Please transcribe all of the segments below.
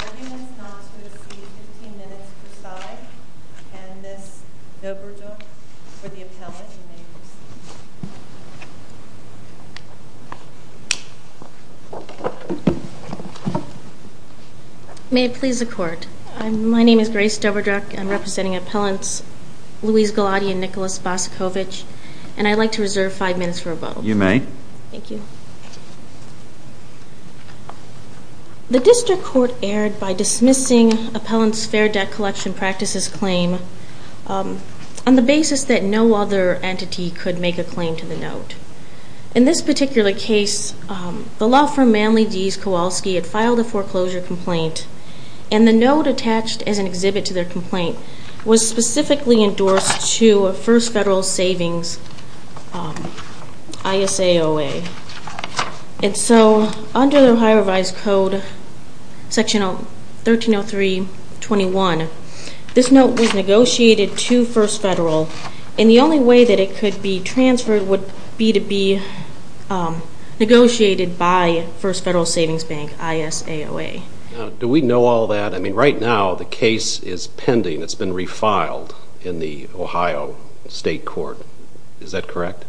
arguments not to exceed 15 minutes per side. Candace Doberduck for the appellate and may it please the court. My name is Grace Doberduck. I'm representing appellants Louise Galati and Nicholas Bosakovich and I'd like to reserve 5 minutes for a vote. You may. Thank you. The district court erred by dismissing appellant's fair debt collection practices claim on the basis that no other entity could make a claim to the note. In this particular case, the law firm Manley Deas Kochalski had filed a foreclosure complaint and the note attached as an exhibit to their complaint was specifically endorsed to a First Federal Savings ISAOA. And so under the Ohio Revised Code Section 1303.21, this note was negotiated to First Federal and the only way that it could be transferred would be to be negotiated by First Federal Savings Bank ISAOA. Do we know all that? I mean right now the case is pending. It's been refiled in the Ohio State Court. Is that correct?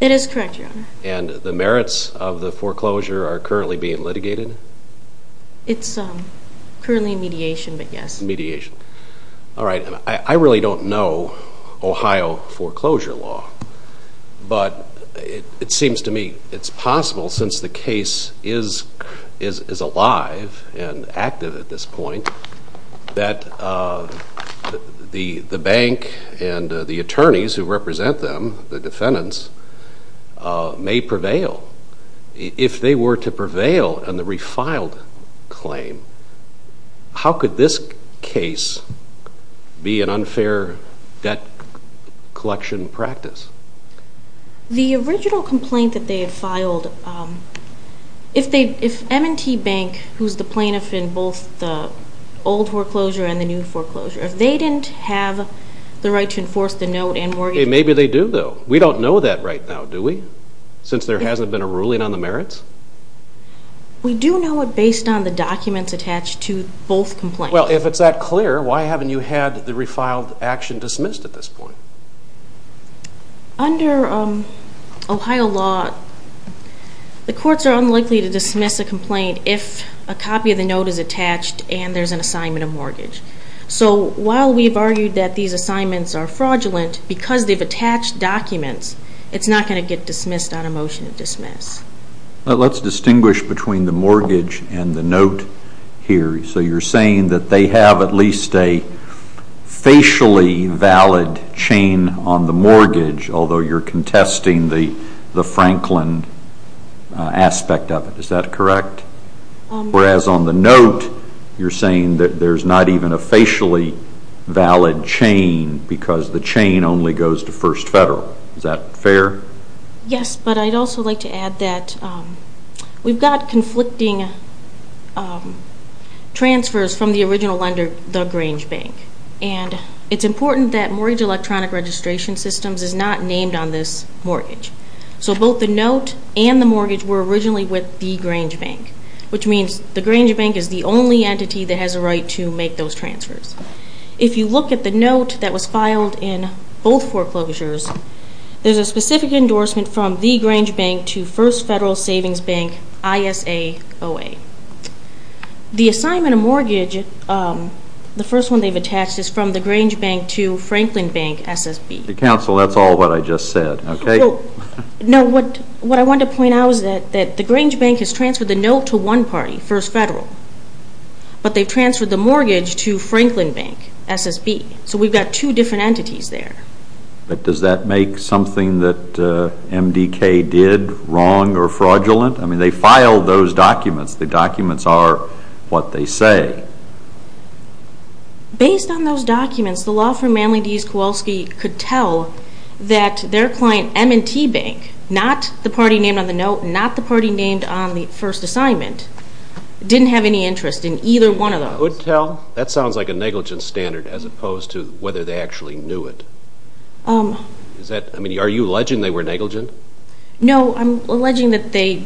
It is correct, Your Honor. And the merits of the foreclosure are currently being litigated? It's currently in mediation, but yes. It's in mediation. All right. I really don't know Ohio foreclosure law, but it seems to me it's possible since the case is alive and active at this point that the bank and the attorneys who represent them, the defendants, may prevail. If they were to prevail on the refiled claim, how could this case be an unfair debt collection practice? The original complaint that they had filed, if M&T Bank, who's the plaintiff in both the old foreclosure and the new foreclosure, if they didn't have the right to enforce the note and mortgage... Okay, maybe they do though. We don't know that right now, do we? Since there hasn't been a ruling on the merits? We do know it based on the documents attached to both complaints. Well, if it's that clear, why haven't you had the refiled action dismissed at this point? Under Ohio law, the courts are unlikely to dismiss a complaint if a copy of the note is attached and there's an assignment of mortgage. So while we've argued that these assignments are fraudulent, because they've attached documents, it's not going to get dismissed on a motion to dismiss. Let's distinguish between the mortgage and the note here. So you're saying that they have at least a facially valid chain on the mortgage, although you're contesting the Franklin aspect of it. Is that correct? Whereas on the note, you're saying that there's not even a facially valid chain because the chain only goes to First Federal. Is that fair? Yes, but I'd also like to add that we've got conflicting transfers from the original lender, the Grange Bank. And it's important that mortgage electronic registration systems is not named on this mortgage. So both the note and the mortgage were originally with the Grange Bank, which means the Grange Bank is the only entity that has a right to make those transfers. If you look at the note that was filed in both foreclosures, there's a specific endorsement from the Grange Bank to First Federal Savings Bank, ISAOA. The assignment of mortgage, the first one they've attached is from the Grange Bank to Franklin Bank, SSB. Counsel, that's all what I just said, okay? No, what I wanted to point out is that the Grange Bank has transferred the note to one party, First Federal, but they've transferred the mortgage to Franklin Bank, SSB. So we've got two different entities there. But does that make something that MDK did wrong or fraudulent? I mean, they filed those documents. The documents are what they say. Based on those documents, the law firm Manley, Deese, Kowalski could tell that their client M&T Bank, not the party named on the note, not the party named on the first assignment, didn't have any interest in either one of those. That sounds like a negligent standard as opposed to whether they actually knew it. Are you alleging they were negligent? No, I'm alleging that they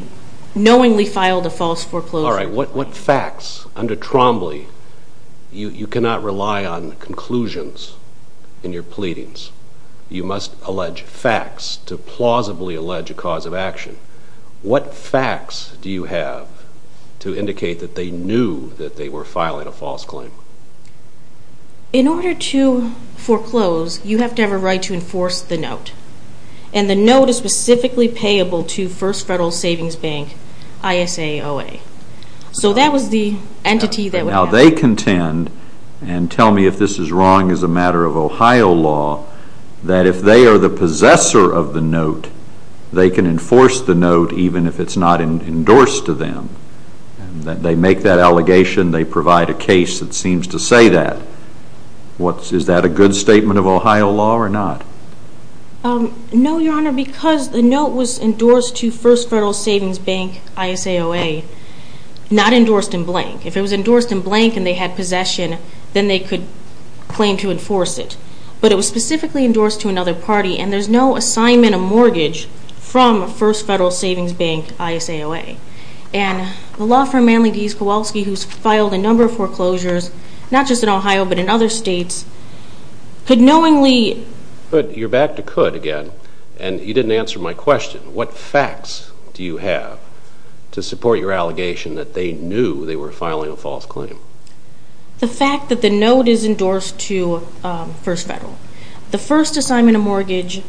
knowingly filed a false foreclosure. All right, what facts, under Trombley, you cannot rely on conclusions in your pleadings. You must allege facts to plausibly allege a cause of action. What facts do you have to indicate that they knew that they were filing a false claim? In order to foreclose, you have to have a right to enforce the note. And the note is specifically payable to First Federal Savings Bank, ISAOA. So that was the entity that would have... Is that a good statement of Ohio law or not? No, Your Honor, because the note was endorsed to First Federal Savings Bank, ISAOA, not endorsed in blank. If it was endorsed in blank and they had possession, then they could claim to enforce it. But it was specifically endorsed to another party, and there's no assignment of mortgage from First Federal Savings Bank, ISAOA. And the law firm Manley D. Skowalski, who's filed a number of foreclosures, not just in Ohio, but in other states, could knowingly... But you're back to could again, and you didn't answer my question. What facts do you have to support your allegation that they knew they were filing a false claim? The fact that the note is endorsed to First Federal. The first assignment of mortgage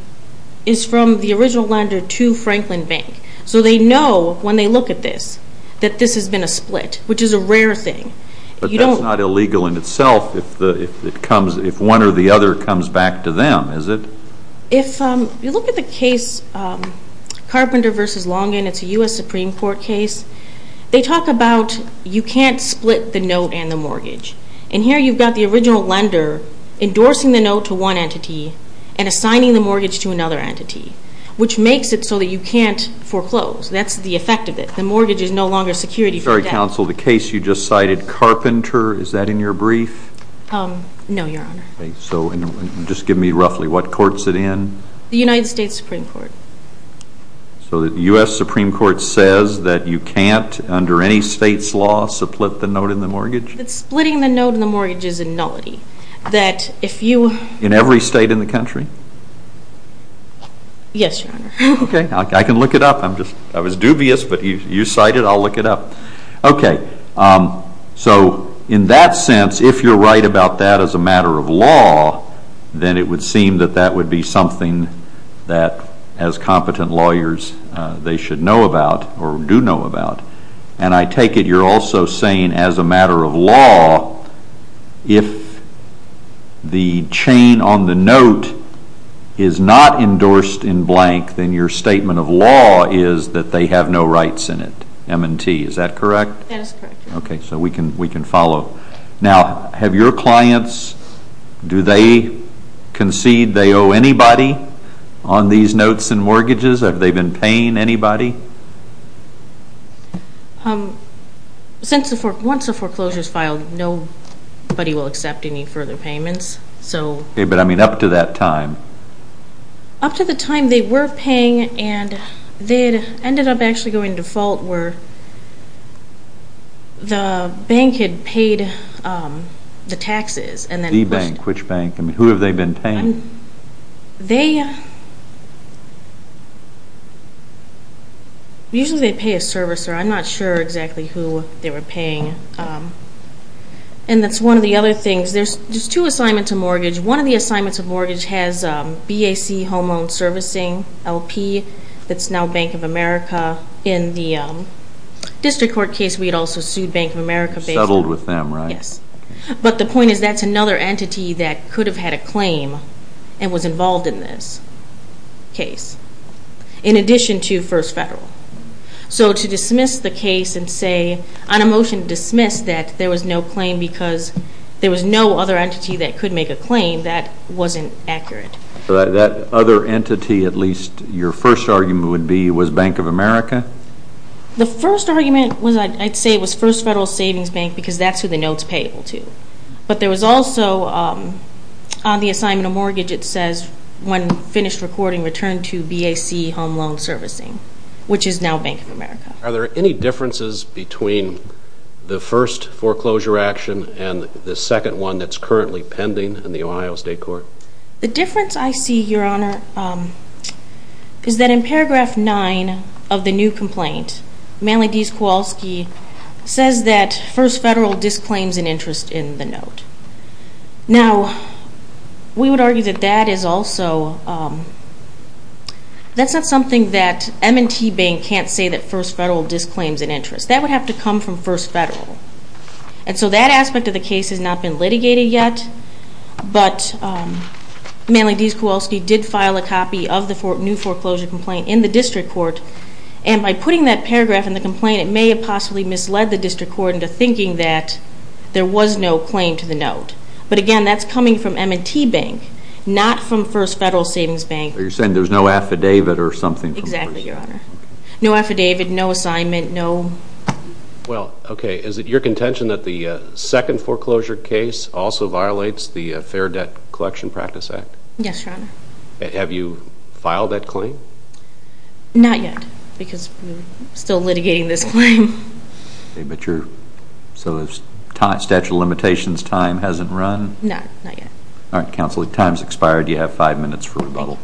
is from the original lender to Franklin Bank. So they know, when they look at this, that this has been a split, which is a rare thing. But that's not illegal in itself if one or the other comes back to them, is it? If you look at the case Carpenter v. Longin, it's a U.S. Supreme Court case. They talk about you can't split the note and the mortgage. And here you've got the original lender endorsing the note to one entity and assigning the mortgage to another entity, which makes it so that you can't foreclose. That's the effect of it. The mortgage is no longer security for the debtor. Sorry, Counsel, the case you just cited, Carpenter, is that in your brief? No, Your Honor. Okay, so just give me roughly what court's it in? The United States Supreme Court. So the U.S. Supreme Court says that you can't, under any state's law, split the note and the mortgage? That splitting the note and the mortgage is a nullity. That if you... In every state in the country? Yes, Your Honor. Okay, I can look it up. I was dubious, but you cite it, I'll look it up. Okay, so in that sense, if you're right about that as a matter of law, then it would seem that that would be something that, as competent lawyers, they should know about or do know about. And I take it you're also saying, as a matter of law, if the chain on the note is not endorsed in blank, then your statement of law is that they have no rights in it. M&T, is that correct? That is correct, Your Honor. Okay, so we can follow. Now, have your clients, do they concede they owe anybody on these notes and mortgages? Have they been paying anybody? Once a foreclosure is filed, nobody will accept any further payments. Okay, but I mean up to that time? Up to the time they were paying and they ended up actually going default where the bank had paid the taxes. The bank, which bank? Who have they been paying? They... usually they pay a servicer. I'm not sure exactly who they were paying. And that's one of the other things. There's two assignments of mortgage. One of the assignments of mortgage has BAC, Home Owned Servicing, LP, that's now Bank of America. In the district court case, we had also sued Bank of America. Settled with them, right? Yes. But the point is that's another entity that could have had a claim and was involved in this case, in addition to First Federal. So to dismiss the case and say on a motion to dismiss that there was no claim because there was no other entity that could make a claim, that wasn't accurate. That other entity, at least your first argument would be, was Bank of America? The first argument was I'd say it was First Federal Savings Bank because that's who the notes payable to. But there was also on the assignment of mortgage it says when finished recording return to BAC Home Owned Servicing, which is now Bank of America. Are there any differences between the first foreclosure action and the second one that's currently pending in the Ohio State Court? The difference I see, Your Honor, is that in paragraph 9 of the new complaint, Manly D. Kowalski says that First Federal disclaims an interest in the note. Now, we would argue that that is also, that's not something that M&T Bank can't say that First Federal disclaims an interest. That would have to come from First Federal. And so that aspect of the case has not been litigated yet, but Manly D. Kowalski did file a copy of the new foreclosure complaint in the district court. And by putting that paragraph in the complaint, it may have possibly misled the district court into thinking that there was no claim to the note. But again, that's coming from M&T Bank, not from First Federal Savings Bank. So you're saying there's no affidavit or something? Exactly, Your Honor. No affidavit, no assignment, no... Well, okay, is it your contention that the second foreclosure case also violates the Fair Debt Collection Practice Act? Yes, Your Honor. Have you filed that claim? Not yet, because we're still litigating this claim. Okay, but you're, so the statute of limitations time hasn't run? No, not yet. All right, counsel, your time's expired. You have five minutes for rebuttal.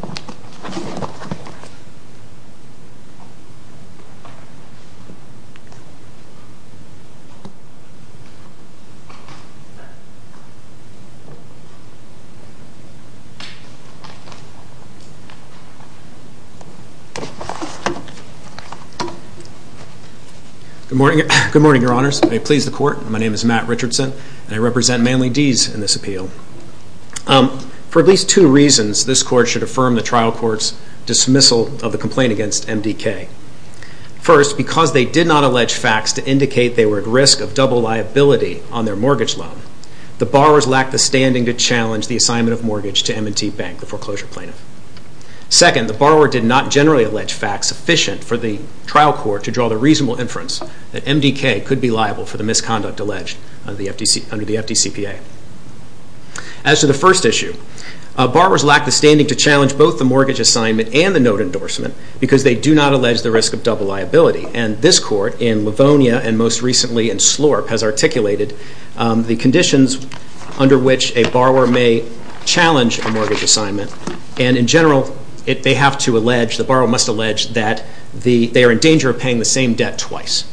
Good morning, Your Honors. May it please the Court, my name is Matt Richardson, and I represent Manly D's in this appeal. For at least two reasons, this Court should affirm the trial court's dismissal of the complaint against MDK. First, because they did not allege facts to indicate they were at risk of double liability on their mortgage loan, the borrowers lacked the standing to challenge the assignment of mortgage to M&T Bank, the foreclosure plaintiff. Second, the borrower did not generally allege facts sufficient for the trial court to draw the reasonable inference that MDK could be liable for the misconduct alleged under the FDCPA. As to the first issue, borrowers lacked the standing to challenge both the mortgage assignment and the note endorsement because they do not allege the risk of double liability, and this Court in Livonia and most recently in Slorp has articulated the conditions under which a borrower may challenge a mortgage assignment, and in general, they have to allege, the borrower must allege that they are in danger of paying the same debt twice,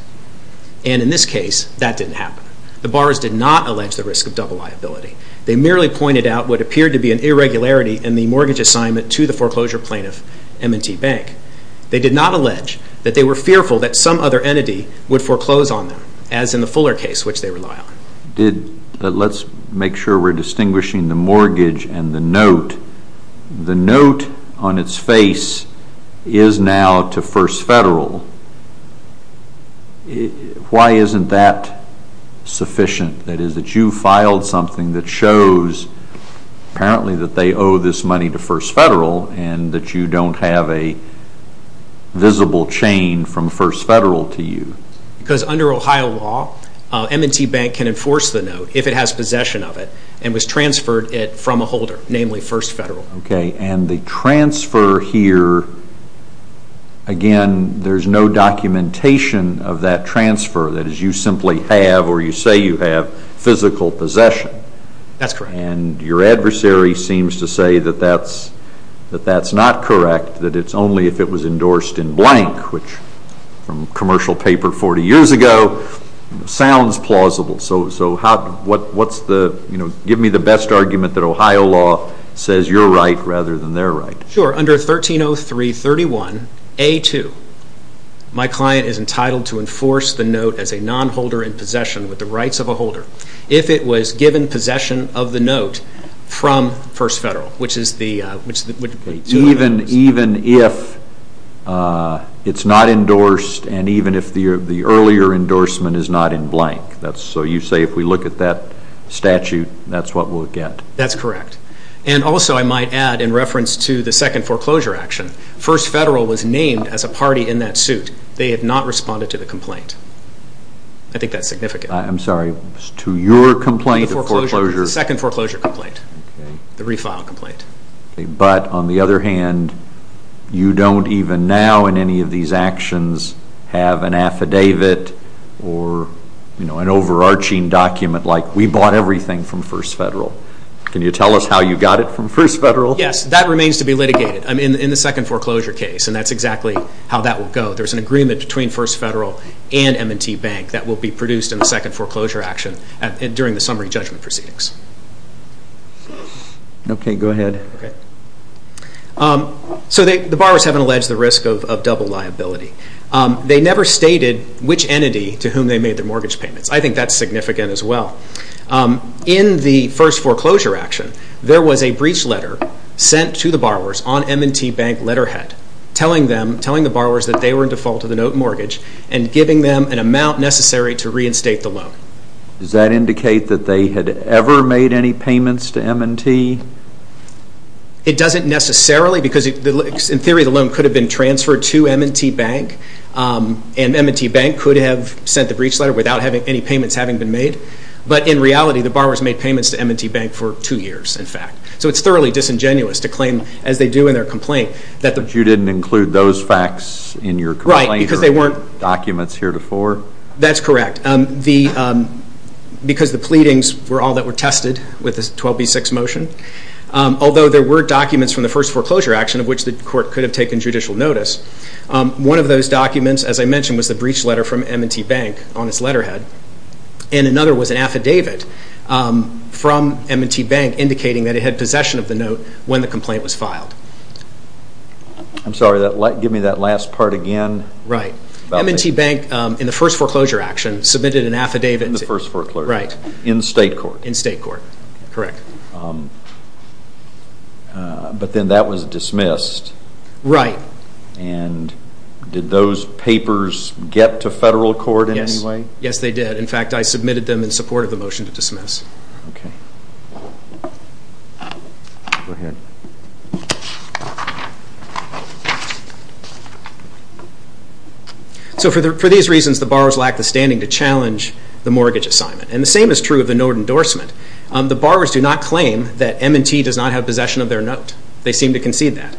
and in this case, that didn't happen. The borrowers did not allege the risk of double liability. They merely pointed out what appeared to be an irregularity in the mortgage assignment to the foreclosure plaintiff, M&T Bank. They did not allege that they were fearful that some other entity would foreclose on them, as in the Fuller case, which they rely on. Let's make sure we're distinguishing the mortgage and the note. The note on its face is now to First Federal. Why isn't that sufficient? That is, that you filed something that shows apparently that they owe this money to First Federal and that you don't have a visible chain from First Federal to you. Because under Ohio law, M&T Bank can enforce the note if it has possession of it and was transferred it from a holder, namely First Federal. Okay, and the transfer here, again, there's no documentation of that transfer. That is, you simply have, or you say you have, physical possession. That's correct. And your adversary seems to say that that's not correct, that it's only if it was endorsed in blank, which from commercial paper 40 years ago sounds plausible. So give me the best argument that Ohio law says you're right rather than they're right. Sure, under 1303.31a.2, my client is entitled to enforce the note as a nonholder in possession with the rights of a holder if it was given possession of the note from First Federal. Even if it's not endorsed and even if the earlier endorsement is not in blank. So you say if we look at that statute, that's what we'll get. That's correct. And also I might add in reference to the second foreclosure action, First Federal was named as a party in that suit. They have not responded to the complaint. I think that's significant. I'm sorry, to your complaint? The second foreclosure complaint, the refile complaint. But on the other hand, you don't even now in any of these actions have an affidavit or an overarching document like we bought everything from First Federal. Can you tell us how you got it from First Federal? Yes, that remains to be litigated in the second foreclosure case, and that's exactly how that will go. There's an agreement between First Federal and M&T Bank that will be produced in the second foreclosure action during the summary judgment proceedings. Okay, go ahead. So the borrowers haven't alleged the risk of double liability. They never stated which entity to whom they made their mortgage payments. I think that's significant as well. In the first foreclosure action, there was a breach letter sent to the borrowers on M&T Bank letterhead telling the borrowers that they were in default to the note mortgage and giving them an amount necessary to reinstate the loan. Does that indicate that they had ever made any payments to M&T? It doesn't necessarily because, in theory, the loan could have been transferred to M&T Bank and M&T Bank could have sent the breach letter without any payments having been made. But in reality, the borrowers made payments to M&T Bank for two years, in fact. So it's thoroughly disingenuous to claim, as they do in their complaint, that the But you didn't include those facts in your complaint or documents heretofore? That's correct. Because the pleadings were all that were tested with the 12B6 motion, although there were documents from the first foreclosure action of which the court could have taken judicial notice, one of those documents, as I mentioned, was the breach letter from M&T Bank on its letterhead, and another was an affidavit from M&T Bank indicating that it had possession of the note when the complaint was filed. I'm sorry, give me that last part again. M&T Bank, in the first foreclosure action, submitted an affidavit. In the first foreclosure, in state court. In state court, correct. But then that was dismissed. Right. And did those papers get to federal court in any way? Yes, they did. In fact, I submitted them in support of the motion to dismiss. Okay. Go ahead. So for these reasons, the borrowers lack the standing to challenge the mortgage assignment. And the same is true of the note endorsement. The borrowers do not claim that M&T does not have possession of their note. They seem to concede that.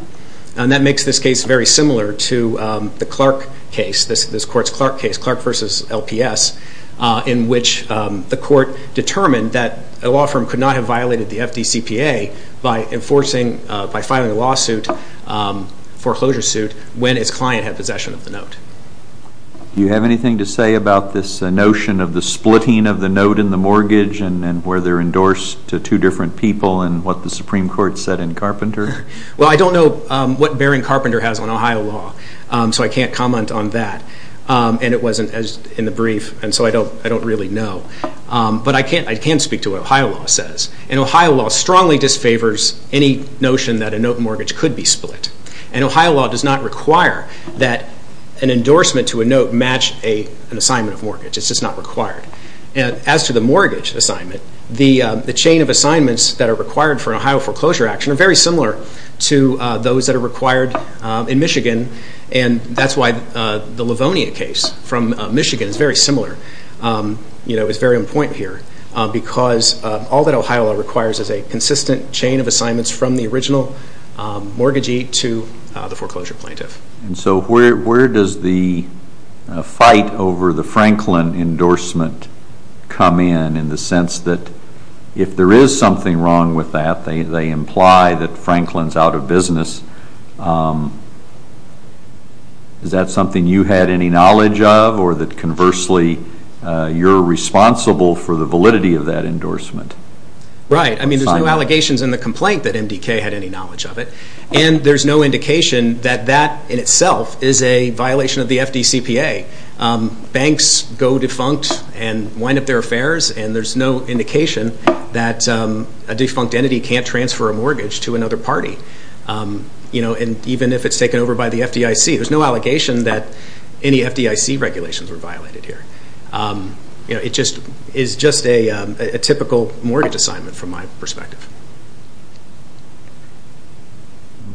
And that makes this case very similar to the Clark case, this court's Clark case, in which the court determined that a law firm could not have violated the FDCPA by enforcing, by filing a lawsuit, foreclosure suit, when its client had possession of the note. Do you have anything to say about this notion of the splitting of the note and the mortgage and where they're endorsed to two different people and what the Supreme Court said in Carpenter? Well, I don't know what Baring Carpenter has on Ohio law, so I can't comment on that. And it wasn't in the brief, and so I don't really know. But I can speak to what Ohio law says. And Ohio law strongly disfavors any notion that a note mortgage could be split. And Ohio law does not require that an endorsement to a note match an assignment of mortgage. It's just not required. As to the mortgage assignment, the chain of assignments that are required for an Ohio foreclosure action are very similar to those that are required in Michigan. And that's why the Livonia case from Michigan is very similar. You know, it's very on point here. Because all that Ohio law requires is a consistent chain of assignments from the original mortgagee to the foreclosure plaintiff. And so where does the fight over the Franklin endorsement come in, in the sense that if there is something wrong with that, they imply that Franklin's out of business. Is that something you had any knowledge of, or that conversely you're responsible for the validity of that endorsement? Right. I mean, there's no allegations in the complaint that MDK had any knowledge of it. And there's no indication that that in itself is a violation of the FDCPA. Banks go defunct and wind up their affairs, and there's no indication that a defunct entity can't transfer a mortgage to another party. And even if it's taken over by the FDIC, there's no allegation that any FDIC regulations were violated here. It's just a typical mortgage assignment from my perspective.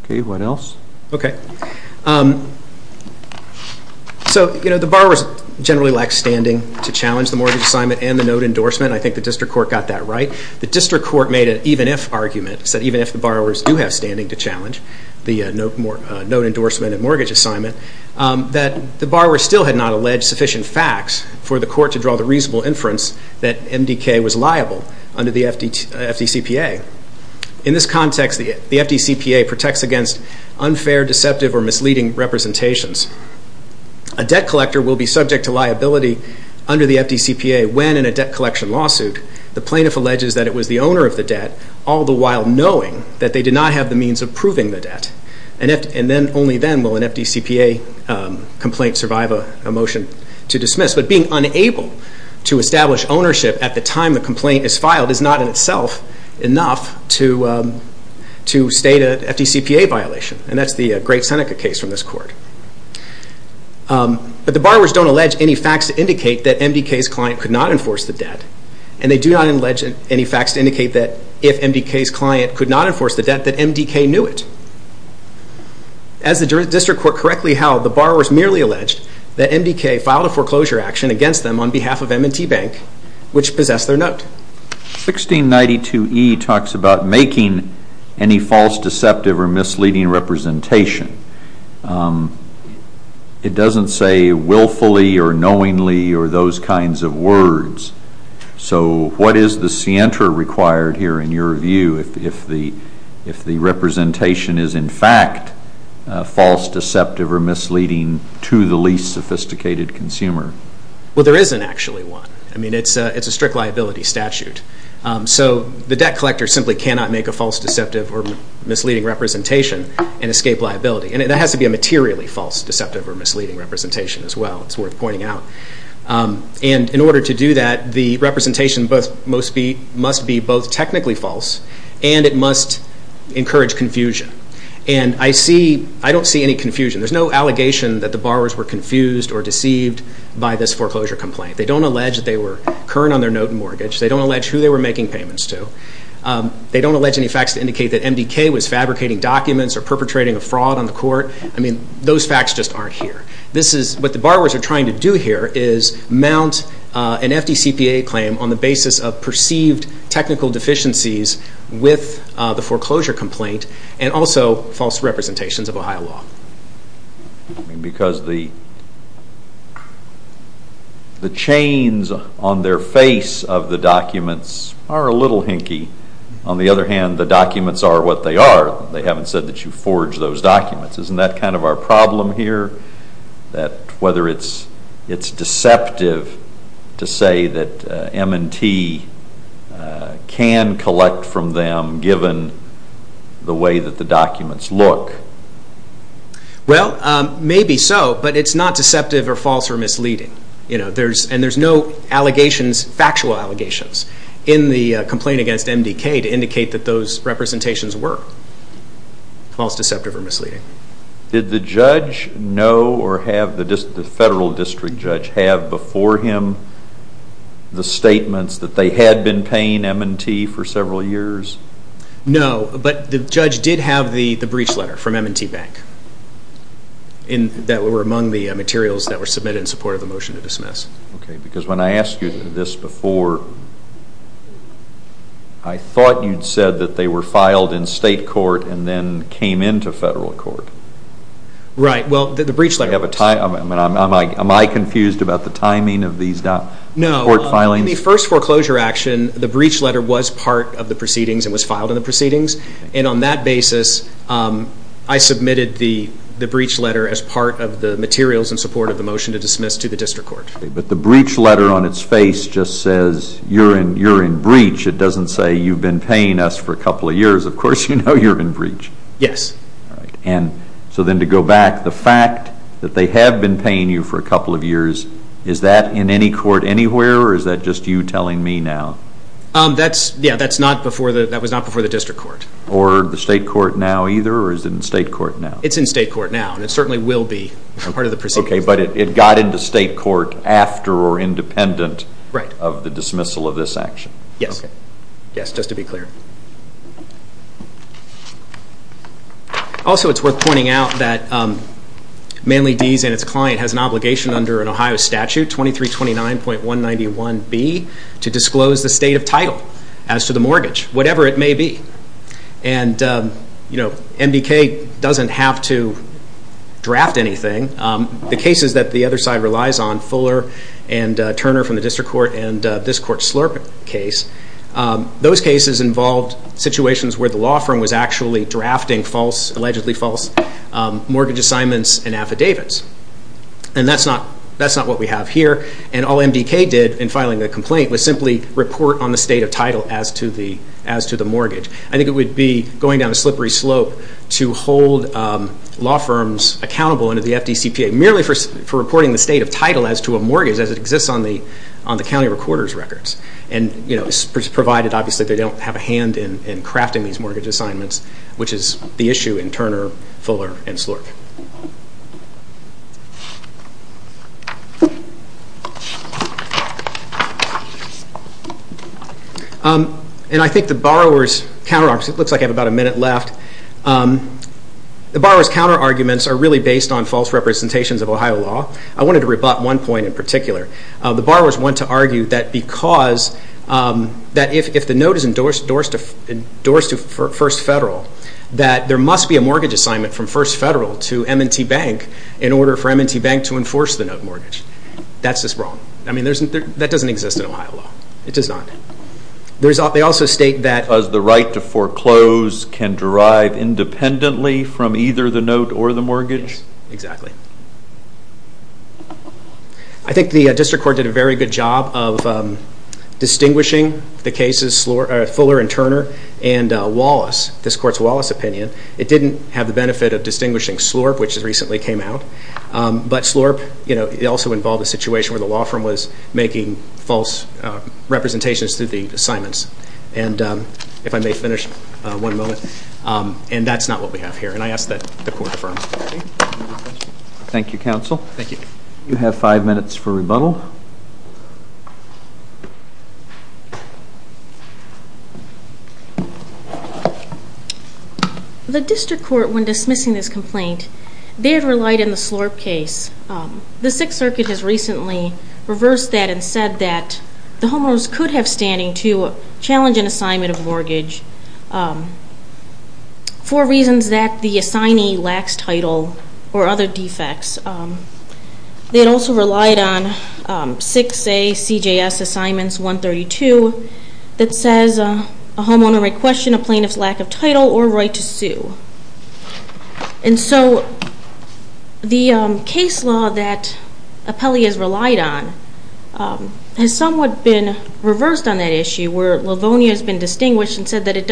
Okay, what else? Okay. So the borrowers generally lack standing to challenge the mortgage assignment and the note endorsement. I think the district court got that right. The district court made an even-if argument, said even if the borrowers do have standing to challenge the note endorsement and mortgage assignment, that the borrower still had not alleged sufficient facts for the court to draw the reasonable inference that MDK was liable under the FDCPA. In this context, the FDCPA protects against unfair, deceptive, or misleading representations. A debt collector will be subject to liability under the FDCPA when, in a debt collection lawsuit, the plaintiff alleges that it was the owner of the debt, all the while knowing that they did not have the means of proving the debt. And only then will an FDCPA complaint survive a motion to dismiss. But being unable to establish ownership at the time the complaint is filed is not in itself enough to state an FDCPA violation. And that's the Great Seneca case from this court. But the borrowers don't allege any facts to indicate that MDK's client could not enforce the debt. And they do not allege any facts to indicate that if MDK's client could not enforce the debt, that MDK knew it. As the district court correctly held, the borrowers merely alleged that MDK filed a foreclosure action against them on behalf of M&T Bank, which possessed their note. 1692e talks about making any false, deceptive, or misleading representation. It doesn't say willfully or knowingly or those kinds of words. So what is the scienter required here in your view if the representation is in fact false, deceptive, or misleading to the least sophisticated consumer? Well, there isn't actually one. I mean, it's a strict liability statute. So the debt collector simply cannot make a false, deceptive, or misleading representation and escape liability. And that has to be a materially false, deceptive, or misleading representation as well. It's worth pointing out. And in order to do that, the representation must be both technically false and it must encourage confusion. And I don't see any confusion. There's no allegation that the borrowers were confused or deceived by this foreclosure complaint. They don't allege that they were current on their note and mortgage. They don't allege who they were making payments to. They don't allege any facts to indicate that MDK was fabricating documents or perpetrating a fraud on the court. I mean, those facts just aren't here. What the borrowers are trying to do here is mount an FDCPA claim on the basis of perceived technical deficiencies with the foreclosure complaint and also false representations of Ohio law. Because the chains on their face of the documents are a little hinky. On the other hand, the documents are what they are. They haven't said that you forge those documents. Isn't that kind of our problem here? That whether it's deceptive to say that M&T can collect from them given the way that the documents look? Well, maybe so, but it's not deceptive or false or misleading. And there's no allegations, factual allegations, in the complaint against MDK to indicate that those representations were false, deceptive, or misleading. Did the federal district judge have before him the statements that they had been paying M&T for several years? No, but the judge did have the breach letter from M&T Bank that were among the materials that were submitted in support of the motion to dismiss. Okay, because when I asked you this before, I thought you'd said that they were filed in state court and then came into federal court. Right, well, the breach letter. Am I confused about the timing of these court filings? No, in the first foreclosure action, the breach letter was part of the proceedings and was filed in the proceedings. And on that basis, I submitted the breach letter as part of the materials in support of the motion to dismiss to the district court. Okay, but the breach letter on its face just says you're in breach. It doesn't say you've been paying us for a couple of years. Of course you know you're in breach. Yes. All right, and so then to go back, the fact that they have been paying you for a couple of years, is that in any court anywhere or is that just you telling me now? Yeah, that was not before the district court. Or the state court now either or is it in state court now? It's in state court now and it certainly will be part of the proceedings. Okay, but it got into state court after or independent of the dismissal of this action. Yes, just to be clear. Also, it's worth pointing out that Manly D's and its client has an obligation under an Ohio statute, 2329.191B, to disclose the state of title as to the mortgage, whatever it may be. And, you know, MDK doesn't have to draft anything. The cases that the other side relies on, Fuller and Turner from the district court and this court's Slurp case, those cases involved situations where the law firm was actually drafting false, allegedly false, mortgage assignments and affidavits. And that's not what we have here. And all MDK did in filing a complaint was simply report on the state of title as to the mortgage. I think it would be going down a slippery slope to hold law firms accountable under the FDCPA merely for reporting the state of title as to a mortgage as it exists on the county recorder's records. And, you know, provided obviously they don't have a hand in crafting these mortgage assignments, which is the issue in Turner, Fuller and Slurp. And I think the borrower's counterarguments, it looks like I have about a minute left, the borrower's counterarguments are really based on false representations of Ohio law. I wanted to rebut one point in particular. The borrowers want to argue that because, that if the note is endorsed to First Federal, that there must be a mortgage assignment from First Federal to M&T Bank in order for M&T Bank to enforce the note mortgage. That's just wrong. I mean, that doesn't exist in Ohio law. It does not. They also state that... Does the right to foreclose can derive independently from either the note or the mortgage? Yes, exactly. I think the district court did a very good job of distinguishing the cases, Fuller and Turner, and Wallace, this court's Wallace opinion. It didn't have the benefit of distinguishing Slurp, But Slurp, you know, it also involved a situation where the law firm was making false representations through the assignments. And if I may finish one moment, and that's not what we have here, and I ask that the court affirm. Thank you, counsel. Thank you. You have five minutes for rebuttal. The district court, when dismissing this complaint, they had relied on the Slurp case. The Sixth Circuit has recently reversed that and said that the homeowners could have standing to challenge an assignment of mortgage for reasons that the assignee lacks title or other defects. They had also relied on 6ACJS Assignments 132 that says a homeowner may question a plaintiff's lack of title or right to sue. And so the case law that Apelli has relied on has somewhat been reversed on that issue where Livonia has been distinguished and said that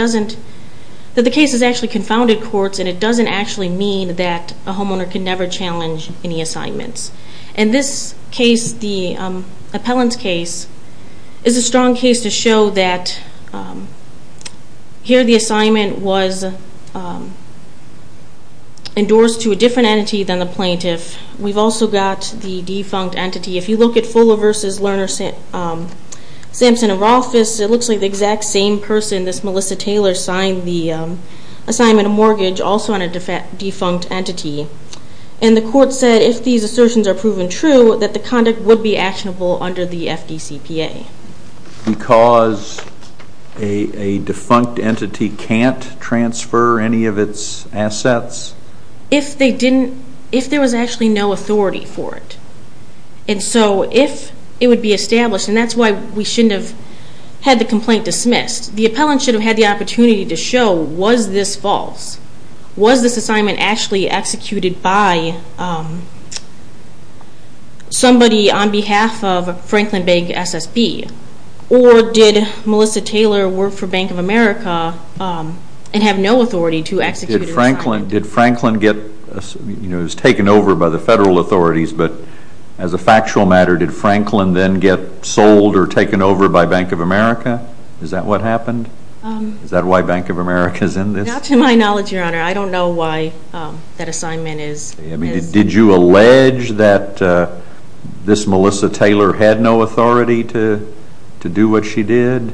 the case has actually confounded courts and it doesn't actually mean that a homeowner can never challenge any assignments. And this case, the appellant's case, is a strong case to show that here the assignment was endorsed to a different entity than the plaintiff. We've also got the defunct entity. If you look at Fuller v. Lerner, Sampson, and Rothfuss, it looks like the exact same person, this Melissa Taylor, signed the assignment of mortgage also on a defunct entity. And the court said if these assertions are proven true that the conduct would be actionable under the FDCPA. Because a defunct entity can't transfer any of its assets? If there was actually no authority for it. And so if it would be established, and that's why we shouldn't have had the complaint dismissed, the appellant should have had the opportunity to show, was this false? Was this assignment actually executed by somebody on behalf of Franklin Bank SSB? Or did Melissa Taylor work for Bank of America and have no authority to execute her assignment? Did Franklin get, you know, it was taken over by the federal authorities, but as a factual matter, did Franklin then get sold or taken over by Bank of America? Is that what happened? Is that why Bank of America is in this? Not to my knowledge, Your Honor. I don't know why that assignment is. Did you allege that this Melissa Taylor had no authority to do what she did?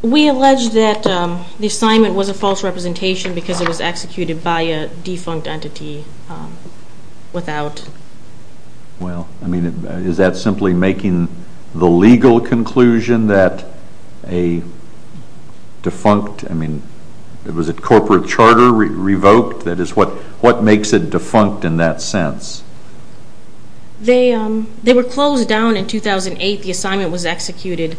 We allege that the assignment was a false representation because it was executed by a defunct entity without. Well, I mean, is that simply making the legal conclusion that a defunct, I mean, was it corporate charter revoked? That is, what makes it defunct in that sense? They were closed down in 2008. The assignment was executed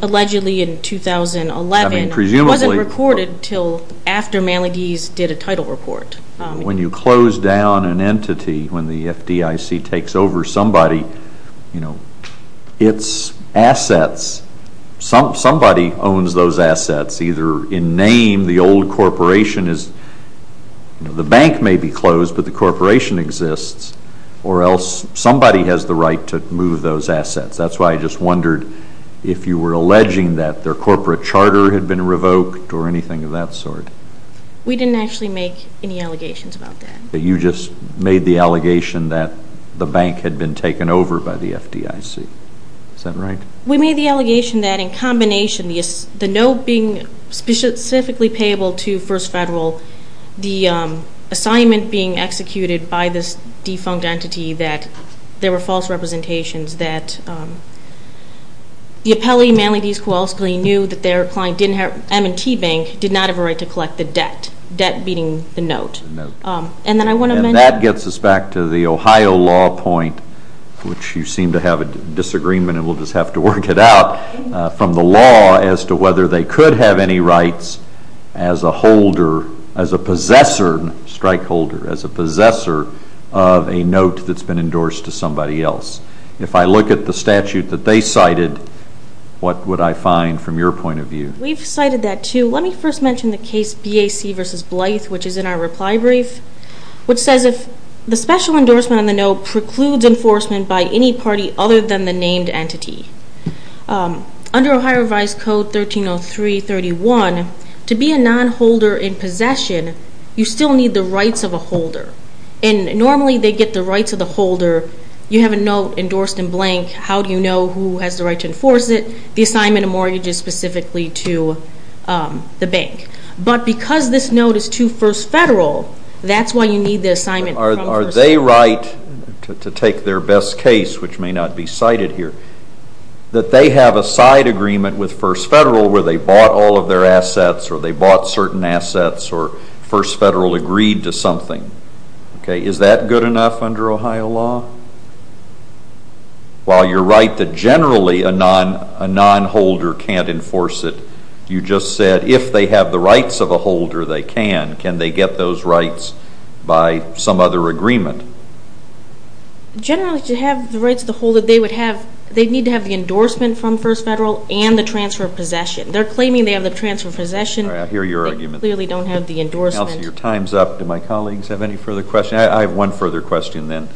allegedly in 2011. I mean, presumably. It wasn't recorded until after Malagese did a title report. When you close down an entity, when the FDIC takes over somebody, you know, its assets, somebody owns those assets, either in name the old corporation is, you know, the bank may be closed, but the corporation exists, or else somebody has the right to move those assets. That's why I just wondered if you were alleging that their corporate charter had been revoked or anything of that sort. We didn't actually make any allegations about that. You just made the allegation that the bank had been taken over by the FDIC. Is that right? We made the allegation that in combination of the note being specifically payable to First Federal, the assignment being executed by this defunct entity, that there were false representations, that the appellee, Malagese Kowalski, knew that their client, M&T Bank, did not have a right to collect the debt, debt meaning the note. And that gets us back to the Ohio law point, which you seem to have a disagreement and we'll just have to work it out. From the law as to whether they could have any rights as a holder, as a possessor, strike holder, as a possessor of a note that's been endorsed to somebody else. If I look at the statute that they cited, what would I find from your point of view? We've cited that too. Let me first mention the case BAC v. Blythe, which is in our reply brief, which says if the special endorsement on the note precludes enforcement by any party other than the named entity, under Ohio Revised Code 1303.31, to be a nonholder in possession, you still need the rights of a holder. And normally they get the rights of the holder. You have a note endorsed in blank. How do you know who has the right to enforce it? The assignment of mortgages specifically to the bank. But because this note is too first federal, that's why you need the assignment from first federal. Are they right to take their best case, which may not be cited here, that they have a side agreement with first federal where they bought all of their assets or they bought certain assets or first federal agreed to something? Is that good enough under Ohio law? While you're right that generally a nonholder can't enforce it, you just said if they have the rights of a holder, they can. Can they get those rights by some other agreement? Generally to have the rights of the holder, they need to have the endorsement from first federal and the transfer of possession. They're claiming they have the transfer of possession. I hear your argument. They clearly don't have the endorsement. Your time's up. Do my colleagues have any further questions? I have one further question then.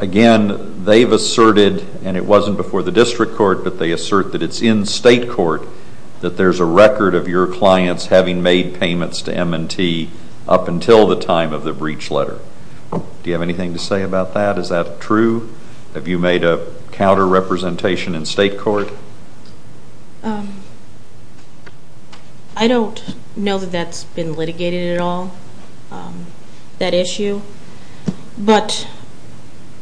Again, they've asserted, and it wasn't before the district court, but they assert that it's in state court that there's a record of your clients having made payments to M&T up until the time of the breach letter. Do you have anything to say about that? Is that true? Have you made a counter-representation in state court? I don't know that that's been litigated at all, that issue. But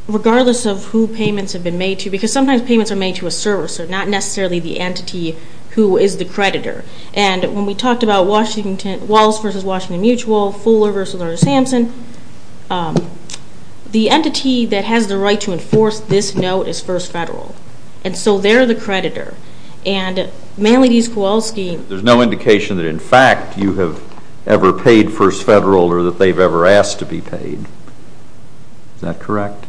regardless of who payments have been made to, because sometimes payments are made to a servicer, not necessarily the entity who is the creditor. And when we talked about Wallis v. Washington Mutual, Fuller v. Samson, the entity that has the right to enforce this note is First Federal. And so they're the creditor. And Manly v. Kowalski. There's no indication that, in fact, you have ever paid First Federal or that they've ever asked to be paid. Is that correct?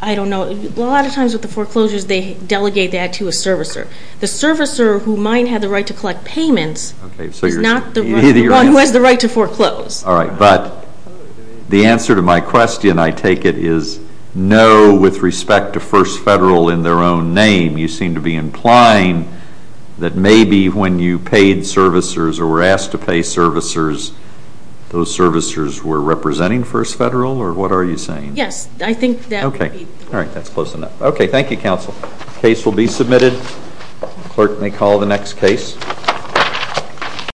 I don't know. A lot of times with the foreclosures, they delegate that to a servicer. The servicer who might have the right to collect payments is not the one who has the right to foreclose. All right. But the answer to my question, I take it, is no with respect to First Federal in their own name. You seem to be implying that maybe when you paid servicers or were asked to pay servicers, those servicers were representing First Federal, or what are you saying? Yes. All right. That's close enough. Okay. Thank you, counsel. Case will be submitted. Clerk may call the next case.